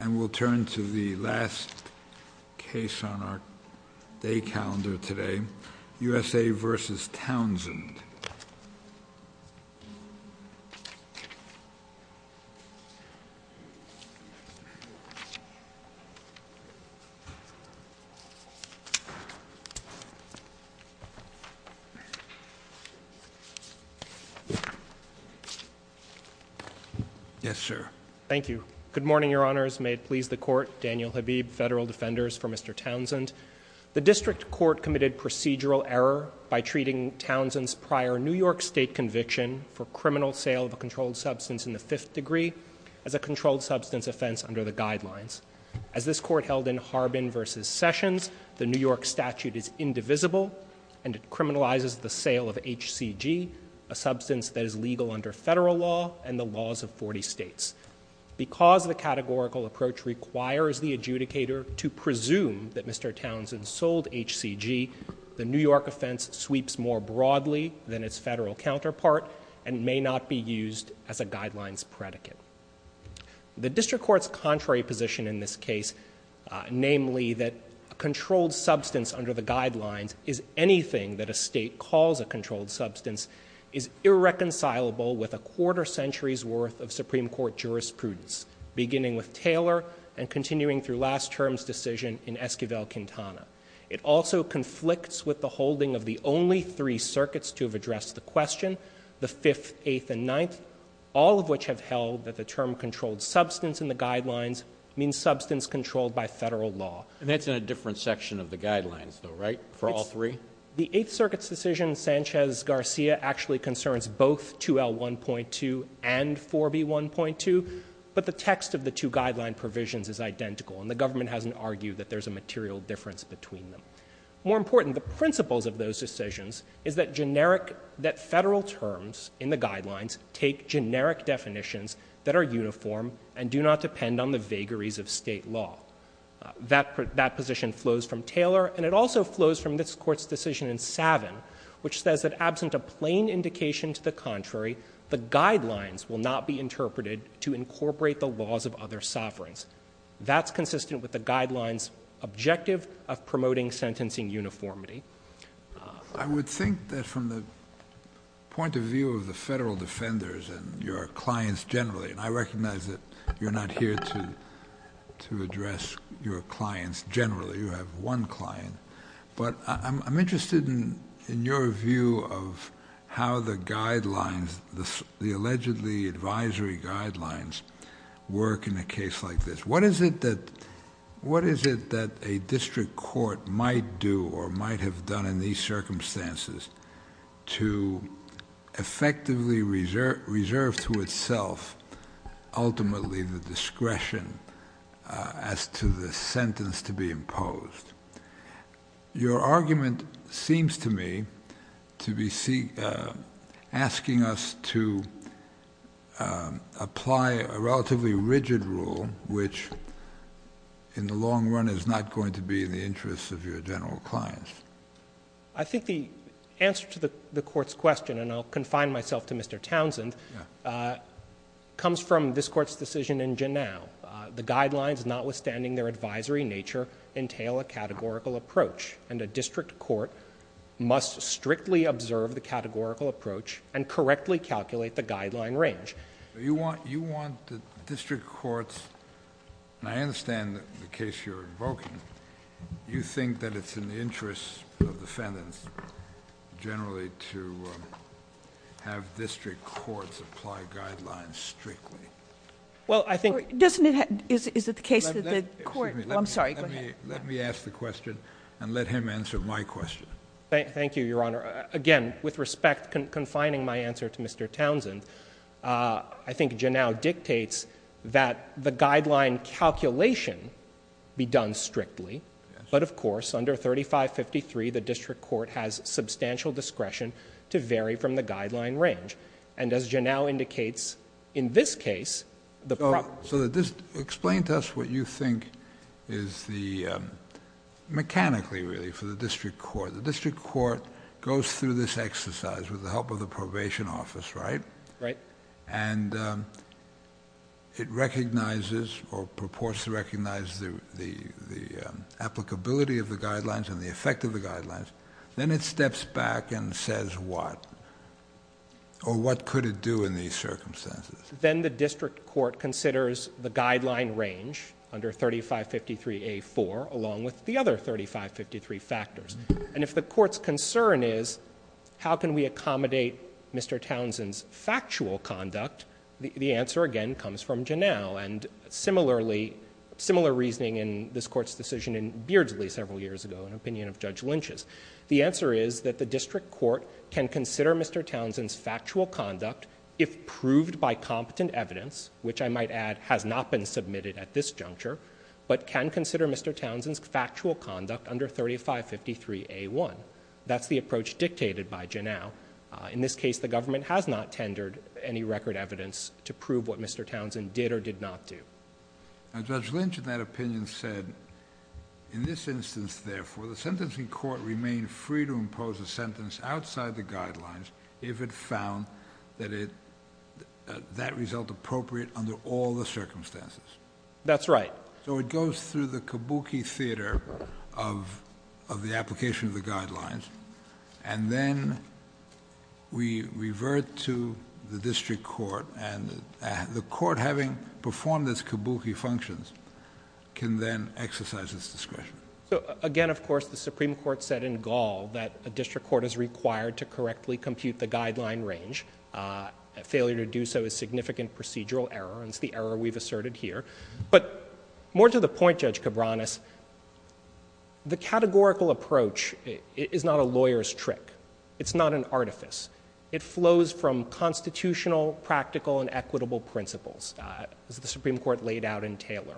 And we'll turn to the last case on our day calendar today, USA v. Townsend. Yes, sir. Thank you. Good morning, your honors. May it please the court. Daniel Habib, federal defenders for Mr. Townsend. The district court committed procedural error by treating Townsend's prior New York State conviction for criminal sale of a controlled substance in the fifth degree as a controlled substance offense under the guidelines. As this court held in Harbin v. Sessions, the New York statute is indivisible and it criminalizes the sale of HCG, a substance that is legal under federal law and the laws of 40 states. Because the categorical approach requires the adjudicator to presume that Mr. Townsend sold HCG, the New York offense sweeps more broadly than its federal counterpart and may not be used as a guidelines predicate. The district court's contrary position in this case, namely that a controlled substance under the guidelines is anything that a state calls a controlled substance, is irreconcilable with a quarter century's worth of Supreme Court jurisprudence, beginning with Taylor and continuing through last term's decision in Esquivel-Quintana. It also conflicts with the holding of the only three circuits to have addressed the question, the 5th, 8th, and 9th, all of which have held that the term controlled substance in the guidelines means substance controlled by federal law. And that's in a different section of the guidelines though, right, for all three? The 8th Circuit's decision, Sanchez-Garcia, actually concerns both 2L1.2 and 4B1.2, but the text of the two guideline provisions is identical and the government hasn't argued that there's a material difference between them. More important, the principles of those decisions is that generic, that federal terms in the guidelines take generic definitions that are uniform and do not depend on the vagaries of state law. That position flows from Taylor, and it also flows from this Court's decision in Savin which says that absent a plain indication to the contrary, the guidelines will not be interpreted to incorporate the laws of other sovereigns. That's consistent with the guidelines' objective of promoting sentencing uniformity. I would think that from the point of view of the federal defenders and your clients generally, and I recognize that you're not here to address your clients generally. You have one client, but I'm interested in your view of how the guidelines, the allegedly advisory guidelines work in a case like this. What is it that a district court might do or might have done in these circumstances to effectively reserve to itself ultimately the discretion as to the sentence to be imposed? Your argument seems to me to be asking us to apply a relatively rigid rule which in the long run is not going to be in the interest of your general clients. I think the answer to the Court's question, and I'll confine myself to Mr. Townsend, comes from this Court's decision in Janow. The guidelines, notwithstanding their advisory nature, entail a categorical approach. And a district court must strictly observe the categorical approach and correctly calculate the guideline range. You want the district courts, and I understand the case you're invoking, you think that it's in the interest of defendants generally to have district courts apply guidelines strictly? Well, I think... Doesn't it... Is it the case that the Court... Excuse me. I'm sorry. Go ahead. Let me ask the question and let him answer my question. Thank you, Your Honor. Again, with respect, confining my answer to Mr. Townsend, I think Janow dictates that the guideline calculation be done strictly. Yes. But, of course, under 3553, the district court has substantial discretion to vary from the guideline range. And as Janow indicates, in this case, the... So explain to us what you think is the... Mechanically, really, for the district court. The district court goes through this exercise with the help of the probation office, right? Right. And it recognizes or purports to recognize the applicability of the guidelines and the effect of the guidelines. Then it steps back and says what? Or what could it do in these circumstances? Then the district court considers the guideline range under 3553A4 along with the other 3553 factors. And if the court's concern is how can we accommodate Mr. Townsend's factual conduct, the answer, again, comes from Janow. And similarly, similar reasoning in this Court's decision in Beardsley several years ago, an opinion of Judge Lynch's. The answer is that the district court can consider Mr. Townsend's factual conduct if proved by competent evidence, which I might add has not been submitted at this juncture, but can consider Mr. Townsend's factual conduct under 3553A1. That's the approach dictated by Janow. In this case, the government has not tendered any record evidence to prove what Mr. Townsend did or did not do. Now, Judge Lynch in that opinion said in this instance, therefore, the sentencing court remained free to impose a sentence outside the guidelines if it found that it that result appropriate under all the circumstances. That's right. So it goes through the kabuki theater of the application of the guidelines, and then we revert to the district court, and the court having performed its kabuki functions can then exercise its discretion. Again, of course, the Supreme Court said in Gall that a district court is required to correctly compute the guideline range. A failure to do so is significant procedural error, and it's the error we've asserted here. But more to the point, Judge Cabranes, the categorical approach is not a lawyer's trick. It's not an artifice. It flows from constitutional, practical, and equitable principles, as the Supreme Court laid out in Taylor.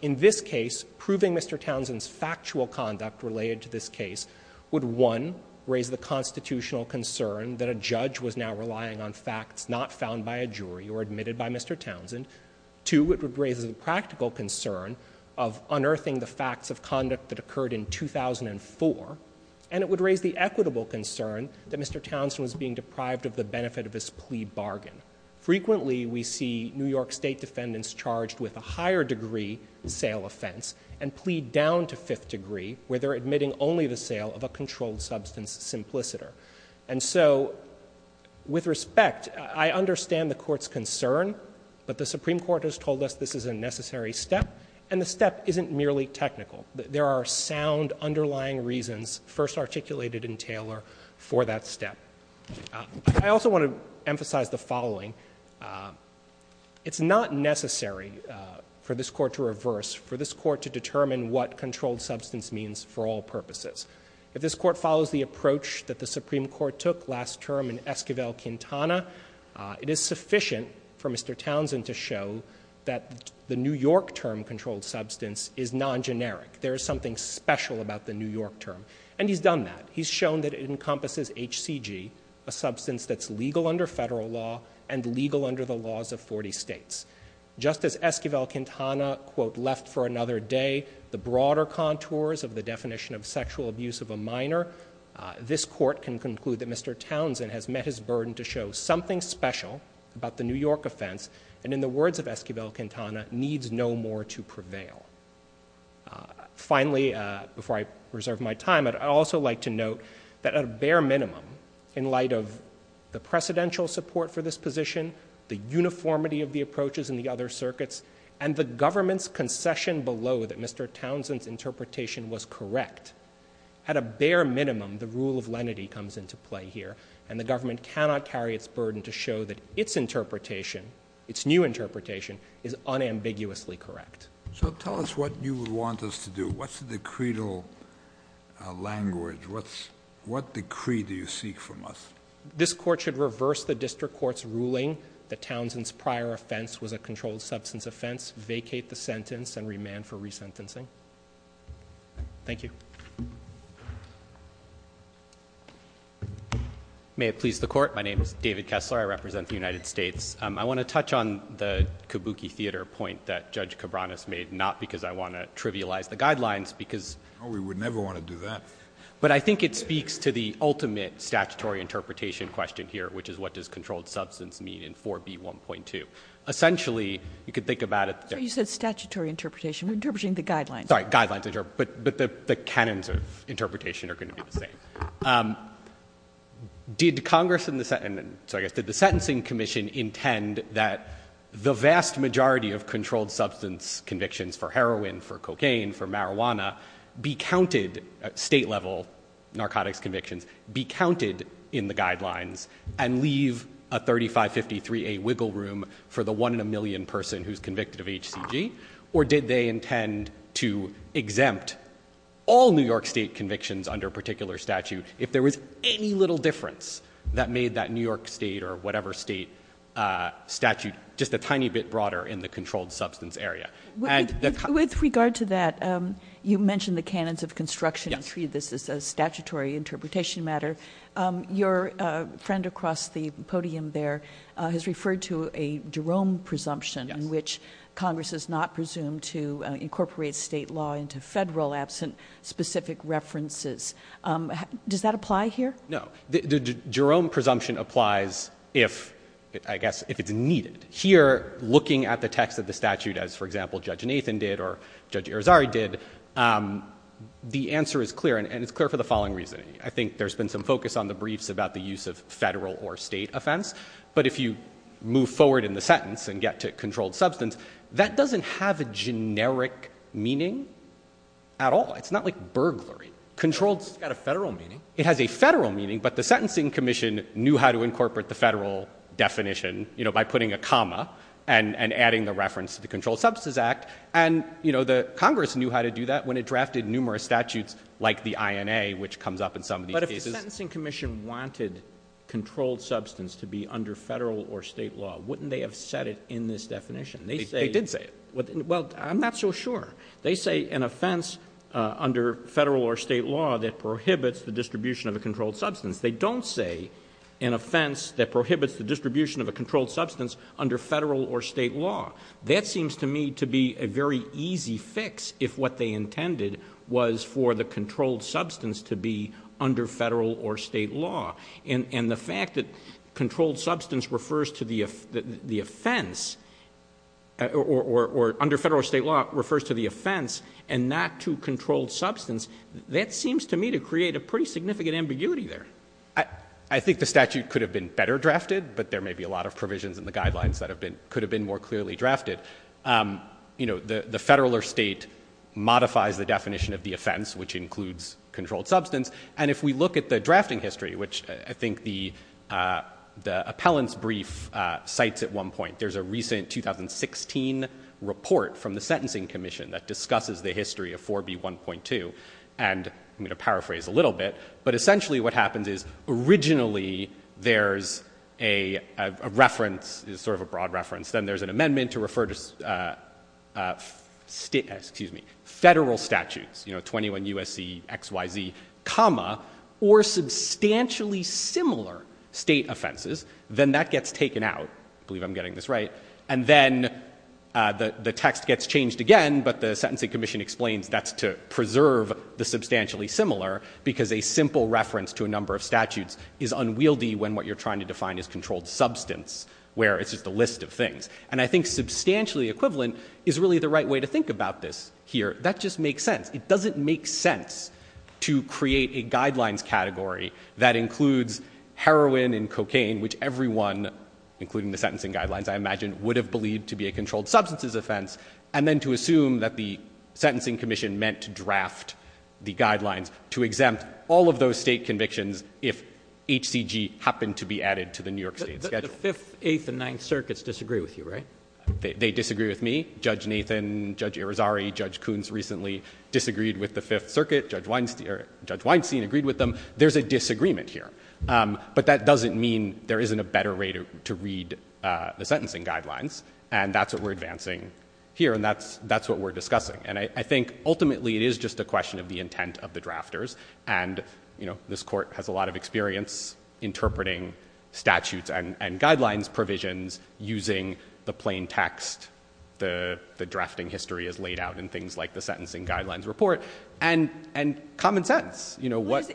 In this case, proving Mr. Townsend's factual conduct related to this case would, one, raise the constitutional concern that a judge was now relying on facts not found by a jury or admitted by Mr. Townsend. Two, it would raise the practical concern of unearthing the facts of conduct that occurred in 2004. And it would raise the equitable concern that Mr. Townsend was being deprived of the benefit of his plea bargain. Frequently, we see New York State defendants charged with a higher degree sale offense and plead down to fifth degree, where they're admitting only the sale of a controlled substance simpliciter. And so with respect, I understand the Court's concern, but the Supreme Court has told us this is a necessary step. And the step isn't merely technical. There are sound underlying reasons first articulated in Taylor for that step. I also want to emphasize the following. It's not necessary for this Court to reverse, for this Court to determine what controlled substance means for all purposes. If this Court follows the approach that the Supreme Court took last term in Esquivel-Quintana, it is sufficient for Mr. Townsend to show that the New York term controlled substance is non-generic. There is something special about the New York term. And he's done that. He's shown that it encompasses HCG, a substance that's legal under federal law and legal under the laws of 40 states. Just as Esquivel-Quintana, quote, left for another day the broader contours of the definition of sexual abuse of a minor, this Court can conclude that Mr. Townsend has met his burden to show something special about the New York offense and in the words of Esquivel-Quintana, needs no more to prevail. Finally, before I reserve my time, I'd also like to note that at a bare minimum, in light of the precedential support for this position, the uniformity of the approaches in the other circuits, and the government's concession below that Mr. Townsend's interpretation was correct, at a bare minimum the rule of lenity comes into play here, and the government cannot carry its burden to show that its interpretation, its new interpretation, is unambiguously correct. So tell us what you would want us to do. What's the decreed language? What decree do you seek from us? This Court should reverse the district court's ruling that Townsend's prior offense was a controlled substance offense, vacate the sentence, and remand for resentencing. Thank you. May it please the Court. My name is David Kessler. I represent the United States. I want to touch on the kabuki theater point that Judge Cabranes made, not because I want to trivialize the guidelines, because we would never want to do that. But I think it speaks to the ultimate statutory interpretation question here, which is what does controlled substance mean in 4B1.2. Essentially, you could think about it. So you said statutory interpretation. We're interpreting the guidelines. Sorry, guidelines. But the canons of interpretation are going to be the same. Did Congress and the Sentencing Commission intend that the vast majority of controlled substance convictions for heroin, for cocaine, for marijuana, state-level narcotics convictions, be counted in the guidelines and leave a 3553A wiggle room for the one-in-a-million person who's convicted of HCG? Or did they intend to exempt all New York state convictions under a particular statute if there was any little difference that made that New York state or whatever state statute just a tiny bit broader in the controlled substance area? With regard to that, you mentioned the canons of construction. Yes. This is a statutory interpretation matter. Your friend across the podium there has referred to a Jerome presumption in which Congress is not presumed to incorporate state law into federal absent specific references. Does that apply here? No. The Jerome presumption applies if, I guess, if it's needed. Here, looking at the text of the statute as, for example, Judge Nathan did or Judge Irizarry did, the answer is clear, and it's clear for the following reason. I think there's been some focus on the briefs about the use of federal or state offense, but if you move forward in the sentence and get to controlled substance, that doesn't have a generic meaning at all. It's not like burglary. It's got a federal meaning. It has a federal meaning, but the Sentencing Commission knew how to incorporate the federal definition by putting a comma and adding the reference to the Controlled Substance Act, and Congress knew how to do that when it drafted numerous statutes like the INA, which comes up in some of these cases. But if the Sentencing Commission wanted controlled substance to be under federal or state law, wouldn't they have said it in this definition? They did say it. Well, I'm not so sure. They say an offense under federal or state law that prohibits the distribution of a controlled substance. They don't say an offense that prohibits the distribution of a controlled substance under federal or state law. That seems to me to be a very easy fix if what they intended was for the controlled substance to be under federal or state law. And the fact that controlled substance refers to the offense or under federal or state law refers to the offense and not to controlled substance, that seems to me to create a pretty significant ambiguity there. I think the statute could have been better drafted, but there may be a lot of provisions in the guidelines that could have been more clearly drafted. The federal or state modifies the definition of the offense, which includes controlled substance. And if we look at the drafting history, which I think the appellant's brief cites at one point, there's a recent 2016 report from the Sentencing Commission that discusses the history of 4B1.2. And I'm going to paraphrase a little bit. But essentially what happens is originally there's a reference, sort of a broad reference. Then there's an amendment to refer to federal statutes, you know, 21 U.S.C. X, Y, Z, comma, or substantially similar state offenses. Then that gets taken out. I believe I'm getting this right. And then the text gets changed again, but the Sentencing Commission explains that's to preserve the substantially similar because a simple reference to a number of statutes is unwieldy when what you're trying to define is controlled substance, where it's just a list of things. And I think substantially equivalent is really the right way to think about this here. That just makes sense. It doesn't make sense to create a guidelines category that includes heroin and cocaine, which everyone, including the sentencing guidelines, I imagine, would have believed to be a controlled substances offense, and then to assume that the Sentencing Commission meant to draft the guidelines to exempt all of those state convictions if HCG happened to be added to the New York State schedule. The Fifth, Eighth, and Ninth Circuits disagree with you, right? They disagree with me. Judge Nathan, Judge Irizarry, Judge Coons recently disagreed with the Fifth Circuit. Judge Weinstein agreed with them. There's a disagreement here. But that doesn't mean there isn't a better way to read the sentencing guidelines, and that's what we're advancing here, and that's what we're discussing. And I think, ultimately, it is just a question of the intent of the drafters, and this Court has a lot of experience interpreting statutes and guidelines provisions using the plain text the drafting history has laid out in things like the Sentencing Guidelines Report, and common sense.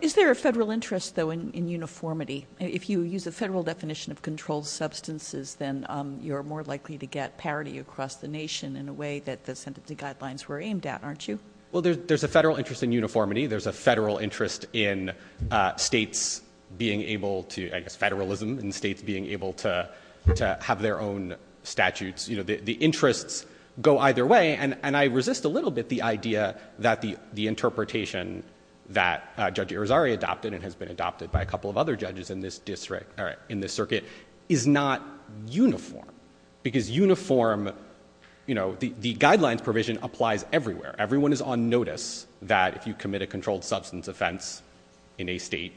Is there a federal interest, though, in uniformity? If you use a federal definition of controlled substances, then you're more likely to get parity across the nation in a way that the sentencing guidelines were aimed at, aren't you? Well, there's a federal interest in uniformity. There's a federal interest in states being able to, I guess, federalism, and states being able to have their own statutes. You know, the interests go either way, and I resist a little bit the idea that the interpretation that Judge Irizarry adopted and has been adopted by a couple of other judges in this circuit is not uniform, because uniform, you know, the guidelines provision applies everywhere. Everyone is on notice that if you commit a controlled substance offense in a state,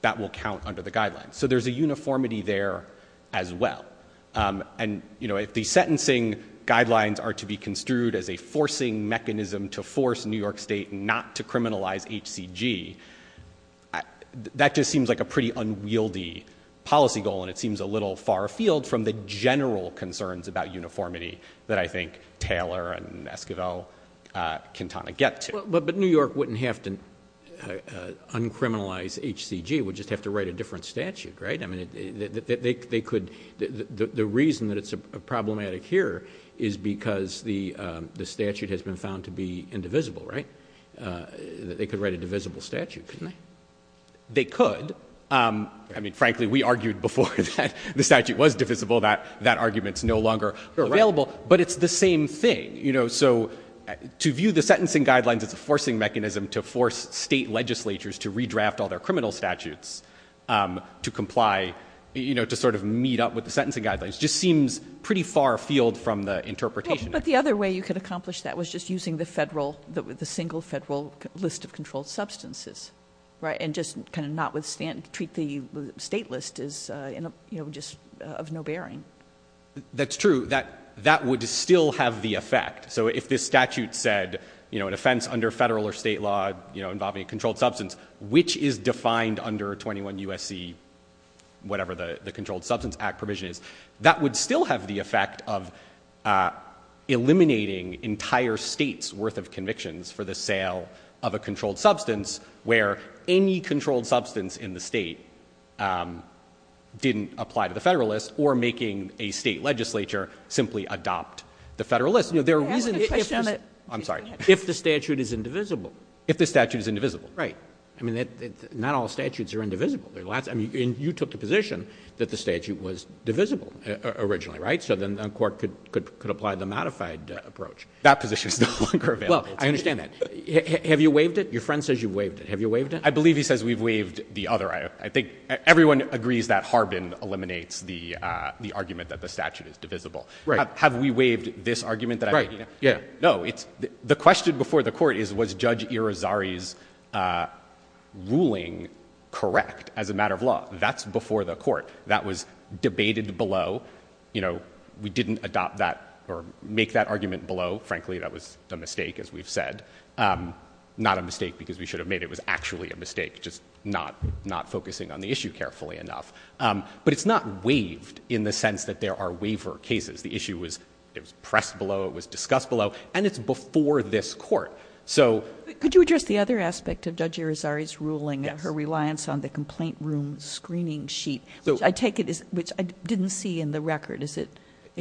that will count under the guidelines. So there's a uniformity there as well. And, you know, if the sentencing guidelines are to be construed as a forcing mechanism to force New York State not to criminalize HCG, that just seems like a pretty unwieldy policy goal, and it seems a little far afield from the general concerns about uniformity that I think Taylor and Esquivel can kind of get to. But New York wouldn't have to uncriminalize HCG. It would just have to write a different statute, right? The reason that it's problematic here is because the statute has been found to be indivisible, right? They could write a divisible statute, couldn't they? They could. I mean, frankly, we argued before that the statute was divisible, that that argument is no longer available. But it's the same thing. You know, so to view the sentencing guidelines as a forcing mechanism to force state legislatures to redraft all their criminal statutes to comply, you know, to sort of meet up with the sentencing guidelines, just seems pretty far afield from the interpretation. But the other way you could accomplish that was just using the federal, the single federal list of controlled substances, right? And just kind of not treat the state list as, you know, just of no bearing. That's true. That would still have the effect. So if this statute said, you know, an offense under federal or state law, you know, involving a controlled substance, which is defined under 21 U.S.C., whatever the Controlled Substance Act provision is, that would still have the effect of eliminating entire states' worth of convictions for the sale of a controlled substance, where any controlled substance in the state didn't apply to the federal list, or making a state legislature simply adopt the federal list. I'm sorry. If the statute is indivisible. If the statute is indivisible. Right. I mean, not all statutes are indivisible. I mean, you took the position that the statute was divisible originally, right? So then a court could apply the modified approach. That position is no longer available. Well, I understand that. Have you waived it? Your friend says you've waived it. Have you waived it? I believe he says we've waived the other. I think everyone agrees that Harbin eliminates the argument that the statute is divisible. Right. Have we waived this argument? Right. No. The question before the court is, was Judge Irizarry's ruling correct as a matter of law? That's before the court. That was debated below. You know, we didn't adopt that or make that argument below. Frankly, that was a mistake, as we've said. Not a mistake because we should have made it. It was actually a mistake, just not focusing on the issue carefully enough. But it's not waived in the sense that there are waiver cases. The issue was pressed below. It was discussed below. And it's before this court. Could you address the other aspect of Judge Irizarry's ruling? Yes. Her reliance on the complaint room screening sheet, which I take it is, which I didn't see in the record. Is it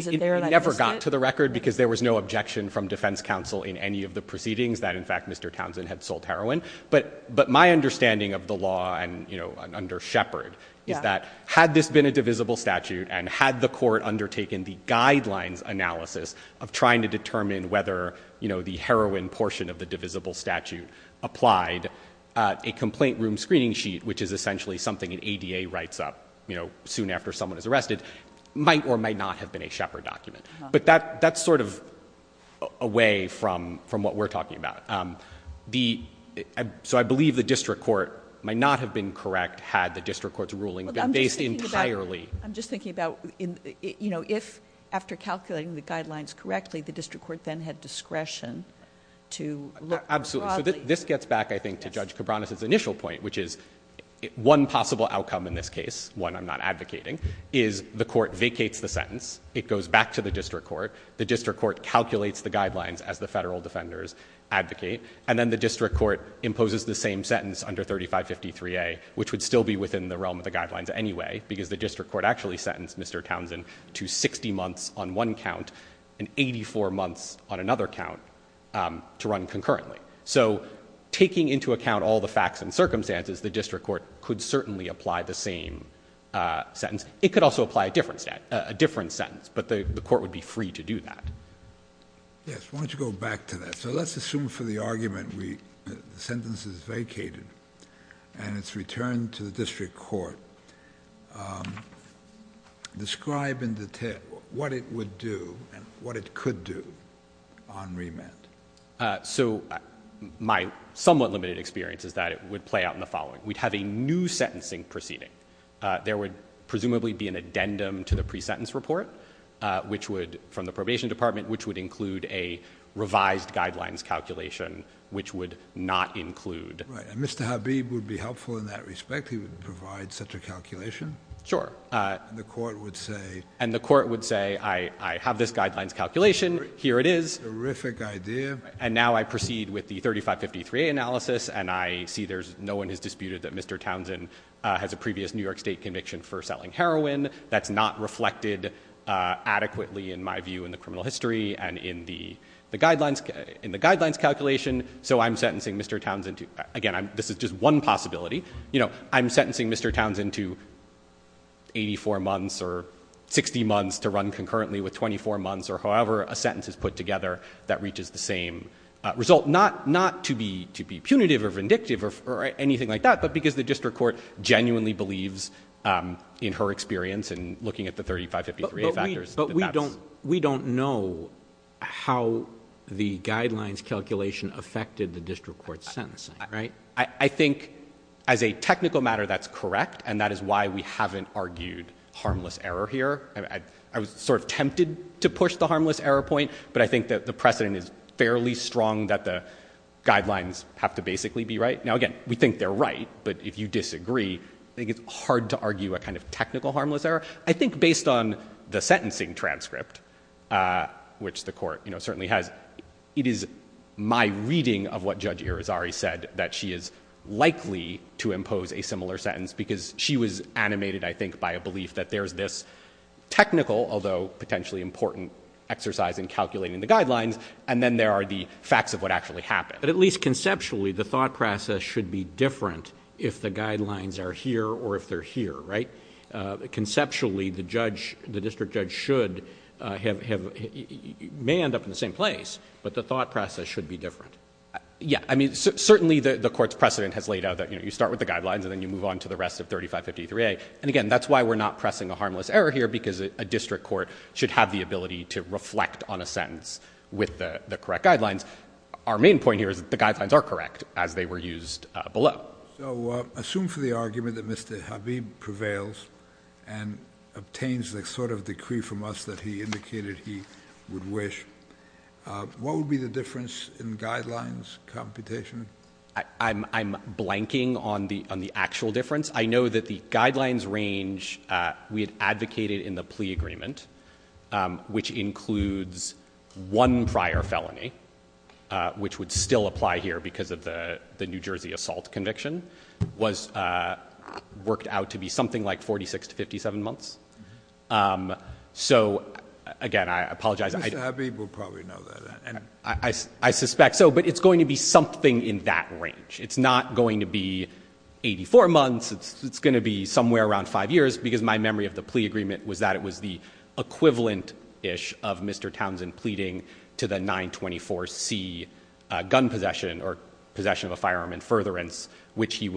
there and I missed it? It never got to the record because there was no objection from defense counsel in any of the proceedings that, in fact, Mr. Townsend had sold heroin. But my understanding of the law and under Shepard is that had this been a divisible statute and had the court undertaken the guidelines analysis of trying to determine whether, you know, the heroin portion of the divisible statute applied, a complaint room screening sheet, which is essentially something an ADA writes up, you know, soon after someone is arrested, might or might not have been a Shepard document. But that's sort of away from what we're talking about. So I believe the district court might not have been correct had the district court's ruling been based entirely. I'm just thinking about, you know, if after calculating the guidelines correctly, the district court then had discretion to look broadly. Absolutely. So this gets back, I think, to Judge Cabranes' initial point, which is one possible outcome in this case, one I'm not advocating, is the court vacates the sentence. It goes back to the district court. The district court calculates the guidelines as the federal defenders advocate. And then the district court imposes the same sentence under 3553A, which would still be within the realm of the guidelines anyway, because the district court actually sentenced Mr. Townsend to 60 months on one count and 84 months on another count to run concurrently. So taking into account all the facts and circumstances, the district court could certainly apply the same sentence. It could also apply a different sentence. But the court would be free to do that. Yes. Why don't you go back to that? So let's assume for the argument the sentence is vacated and it's returned to the district court. Describe in detail what it would do and what it could do on remand. So my somewhat limited experience is that it would play out in the following. We'd have a new sentencing proceeding. There would presumably be an addendum to the pre-sentence report from the district court, which would not include, and Mr. Habib would be helpful in that respect. He would provide such a calculation. Sure. And the court would say, I have this guidelines calculation. Here it is. Terrific idea. And now I proceed with the 3553A analysis. And I see there's no one who's disputed that Mr. Townsend has a previous New York State conviction for selling heroin. That's not reflected adequately in my view in the criminal history and in the guidelines calculation. So I'm sentencing Mr. Townsend to, again, this is just one possibility. You know, I'm sentencing Mr. Townsend to 84 months or 60 months to run concurrently with 24 months or however a sentence is put together that reaches the same result. Not to be punitive or vindictive or anything like that, but because the district court genuinely believes in her experience in looking at the 3553A factors. But we don't know how the guidelines calculation affected the district court sentencing, right? I think as a technical matter, that's correct. And that is why we haven't argued harmless error here. I was sort of tempted to push the harmless error point, but I think that the precedent is fairly strong that the guidelines have to basically be right. Now, again, we think they're right, but if you disagree, I think it's hard to argue a kind of technical harmless error. I think based on the sentencing transcript, which the court certainly has, it is my reading of what Judge Irizarry said that she is likely to impose a similar sentence because she was animated, I think, by a belief that there's this technical, although potentially important exercise in calculating the guidelines, and then there are the facts of what actually happened. But at least conceptually, the thought process should be different if the guidelines are here or if they're here, right? Conceptually, the district judge may end up in the same place, but the thought process should be different. Yeah. I mean, certainly the court's precedent has laid out that you start with the guidelines and then you move on to the rest of 3553A. And again, that's why we're not pressing a harmless error here, because a district court should have the ability to reflect on a sentence with the correct guidelines. Our main point here is that the guidelines are correct, as they were used below. So assume for the argument that Mr. Habib prevails and obtains the sort of decree from us that he indicated he would wish, what would be the difference in guidelines computation? I'm blanking on the actual difference. I know that the guidelines range we had advocated in the plea agreement, which includes one prior felony, which would still apply here because of the New Jersey assault conviction, worked out to be something like 46 to 57 months. So again, I apologize. Mr. Habib will probably know that. I suspect so, but it's going to be something in that range. It's not going to be 84 months. It's going to be somewhere around five years, because my memory of the plea agreement was that it was the equivalent-ish of Mr. Townsend pleading to the 924C gun possession or possession of a firearm in furtherance, which he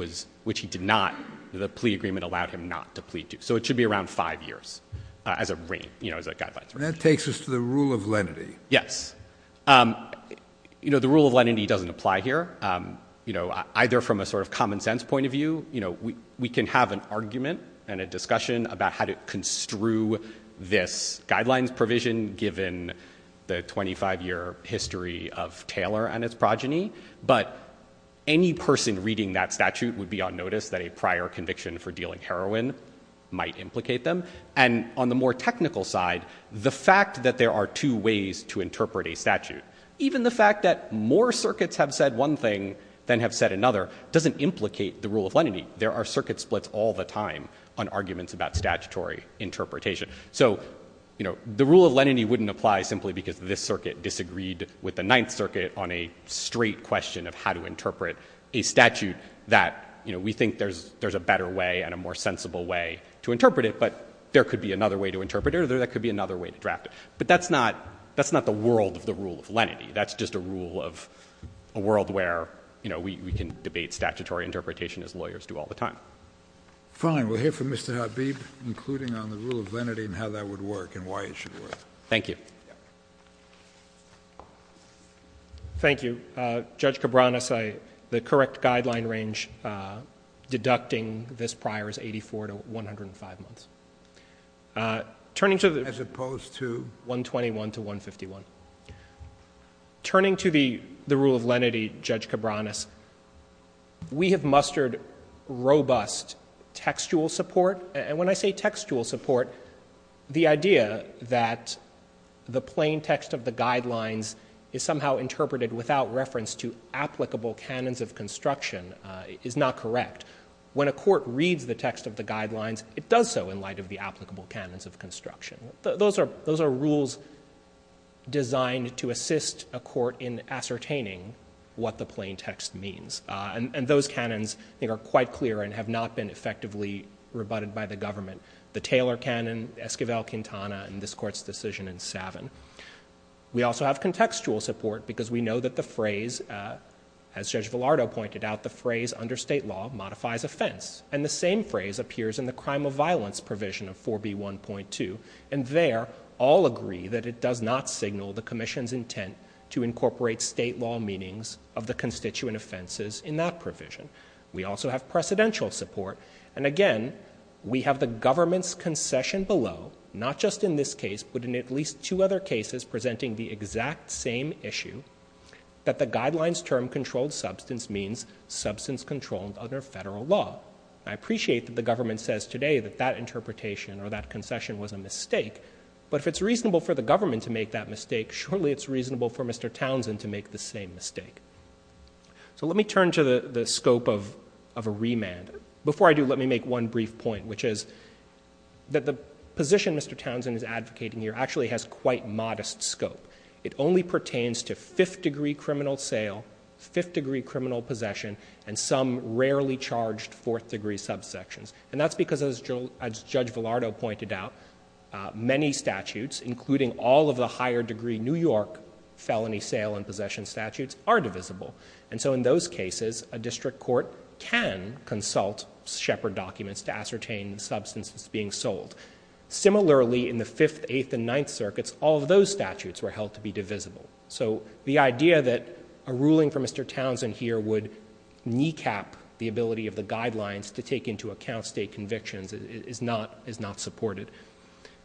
did not. The plea agreement allowed him not to plead to. So it should be around five years as a guideline. And that takes us to the rule of lenity. Yes. The rule of lenity doesn't apply here, either from a sort of common sense point of view. We can have an argument and a discussion about how to construe this guidelines provision given the 25-year history of Taylor and its progeny. But any person reading that statute would be on notice that a prior conviction for dealing heroin might implicate them. And on the more technical side, the fact that there are two ways to interpret a statute, even the fact that more circuits have said one thing than have said another, doesn't implicate the rule of lenity. There are circuit splits all the time on arguments about statutory interpretation. So, you know, the rule of lenity wouldn't apply simply because this circuit disagreed with the Ninth Circuit on a straight question of how to interpret a statute that, you know, we think there's a better way and a more sensible way to interpret it, but there could be another way to interpret it or there could be another way to draft it. But that's not the world of the rule of lenity. That's just a rule of a world where, you know, we can debate statutory interpretation as lawyers do all the time. Fine. We'll hear from Mr. Habib, including on the rule of lenity and how that would work and why it should work. Thank you. Thank you. Judge Cabranes, the correct guideline range deducting this prior is 84 to 105 months. As opposed to? As opposed to 121 to 151. Turning to the rule of lenity, Judge Cabranes, we have mustered robust textual support. And when I say textual support, the idea that the plain text of the guidelines is somehow interpreted without reference to applicable canons of construction is not correct. When a court reads the text of the guidelines, it does so in light of the applicable canons of construction. Those are, those are rules designed to assist a court in ascertaining what the plain text means. And those canons are quite clear and have not been effectively rebutted by the government. The Taylor canon, Esquivel-Quintana, and this court's decision in Savin. We also have contextual support because we know that the phrase, as Judge Velardo pointed out, the phrase under state law modifies offense. And the same phrase appears in the crime of violence provision of 4B1.2. And there, all agree that it does not signal the commission's intent to incorporate state law meanings of the constituent offenses in that provision. We also have precedential support. And again, we have the government's concession below, not just in this case, but in at least two other cases presenting the exact same issue that the guidelines term controlled substance means substance controlled under federal law. I appreciate that the government says today that that interpretation or that concession was a mistake, but if it's reasonable for the government to make that mistake, surely it's reasonable for Mr. Townsend to make the same mistake. So let me turn to the, the scope of, of a remand before I do, let me make one brief point, which is that the position Mr. Townsend is advocating here actually has quite modest scope. It only pertains to fifth degree, criminal sale, fifth degree criminal possession, and some rarely charged fourth degree subsections. And that's because as Joel, as Judge Velardo pointed out many statutes, including all of the higher degree, New York felony sale and possession statutes are divisible. And so in those cases, a district court can consult shepherd documents to ascertain the substance that's being sold. Similarly in the fifth, eighth and ninth circuits, all of those statutes were held to be divisible. So the idea that a ruling from Mr. Townsend here would kneecap the ability of the guidelines to take into account state convictions is not, is not supported,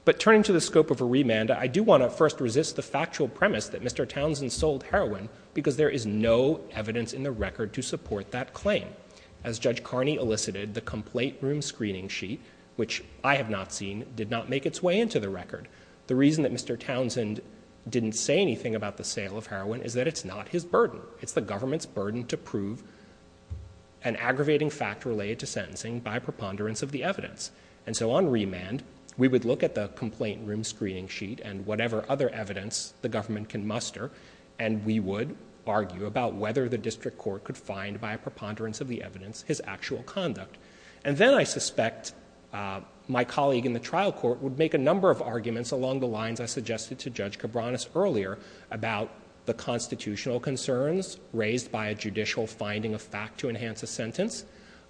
but turning to the scope of a remand, I do want to first resist the factual premise that Mr. Townsend sold heroin because there is no evidence in the record to support that claim as judge Carney elicited the complaint room screening sheet, which I have not seen, did not make its way into the record. The reason that Mr. Townsend didn't say anything about the sale of heroin is that it's not his burden. It's the government's burden to prove an aggravating fact related to sentencing by preponderance of the evidence. And so on remand, we would look at the complaint room screening sheet and whatever other evidence the government can muster. And we would argue about whether the district court could find by a preponderance of the evidence, his actual conduct. And then I suspect my colleague in the trial court would make a number of arguments along the lines I suggested to judge Cabranes earlier about the constitutional concerns raised by a judicial finding of fact to enhance a sentence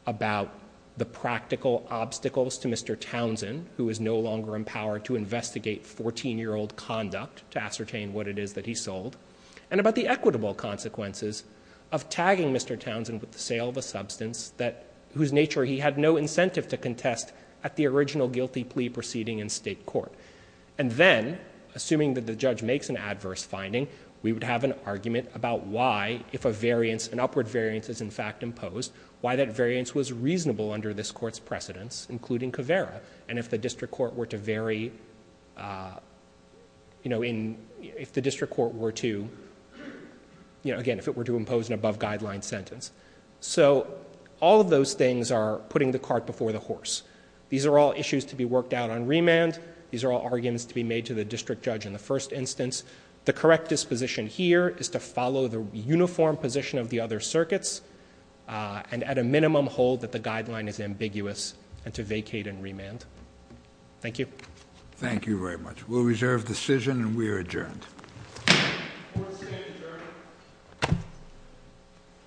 about the practical obstacles to Mr. Townsend, who is no longer empowered to investigate 14 year old conduct to ascertain what it is that he sold and about the equitable consequences of tagging Mr. Townsend with the sale of a substance that whose nature he had no incentive to contest at the original guilty plea proceeding in state court. And then assuming that the judge makes an adverse finding, we would have an argument about why, if a variance and upward variance is in fact imposed, why that variance was reasonable under this court's precedence, including Caveira. And if the district court were to vary, if the district court were to impose an above guideline sentence. So all of those things are putting the cart before the horse. These are all issues to be worked out on remand. These are all arguments to be made to the district judge in the first instance. The correct disposition here is to follow the uniform position of the other circuits. And at a minimum hold that the guideline is ambiguous and to vacate and remand. Thank you. Thank you very much. We'll reserve decision and we are adjourned.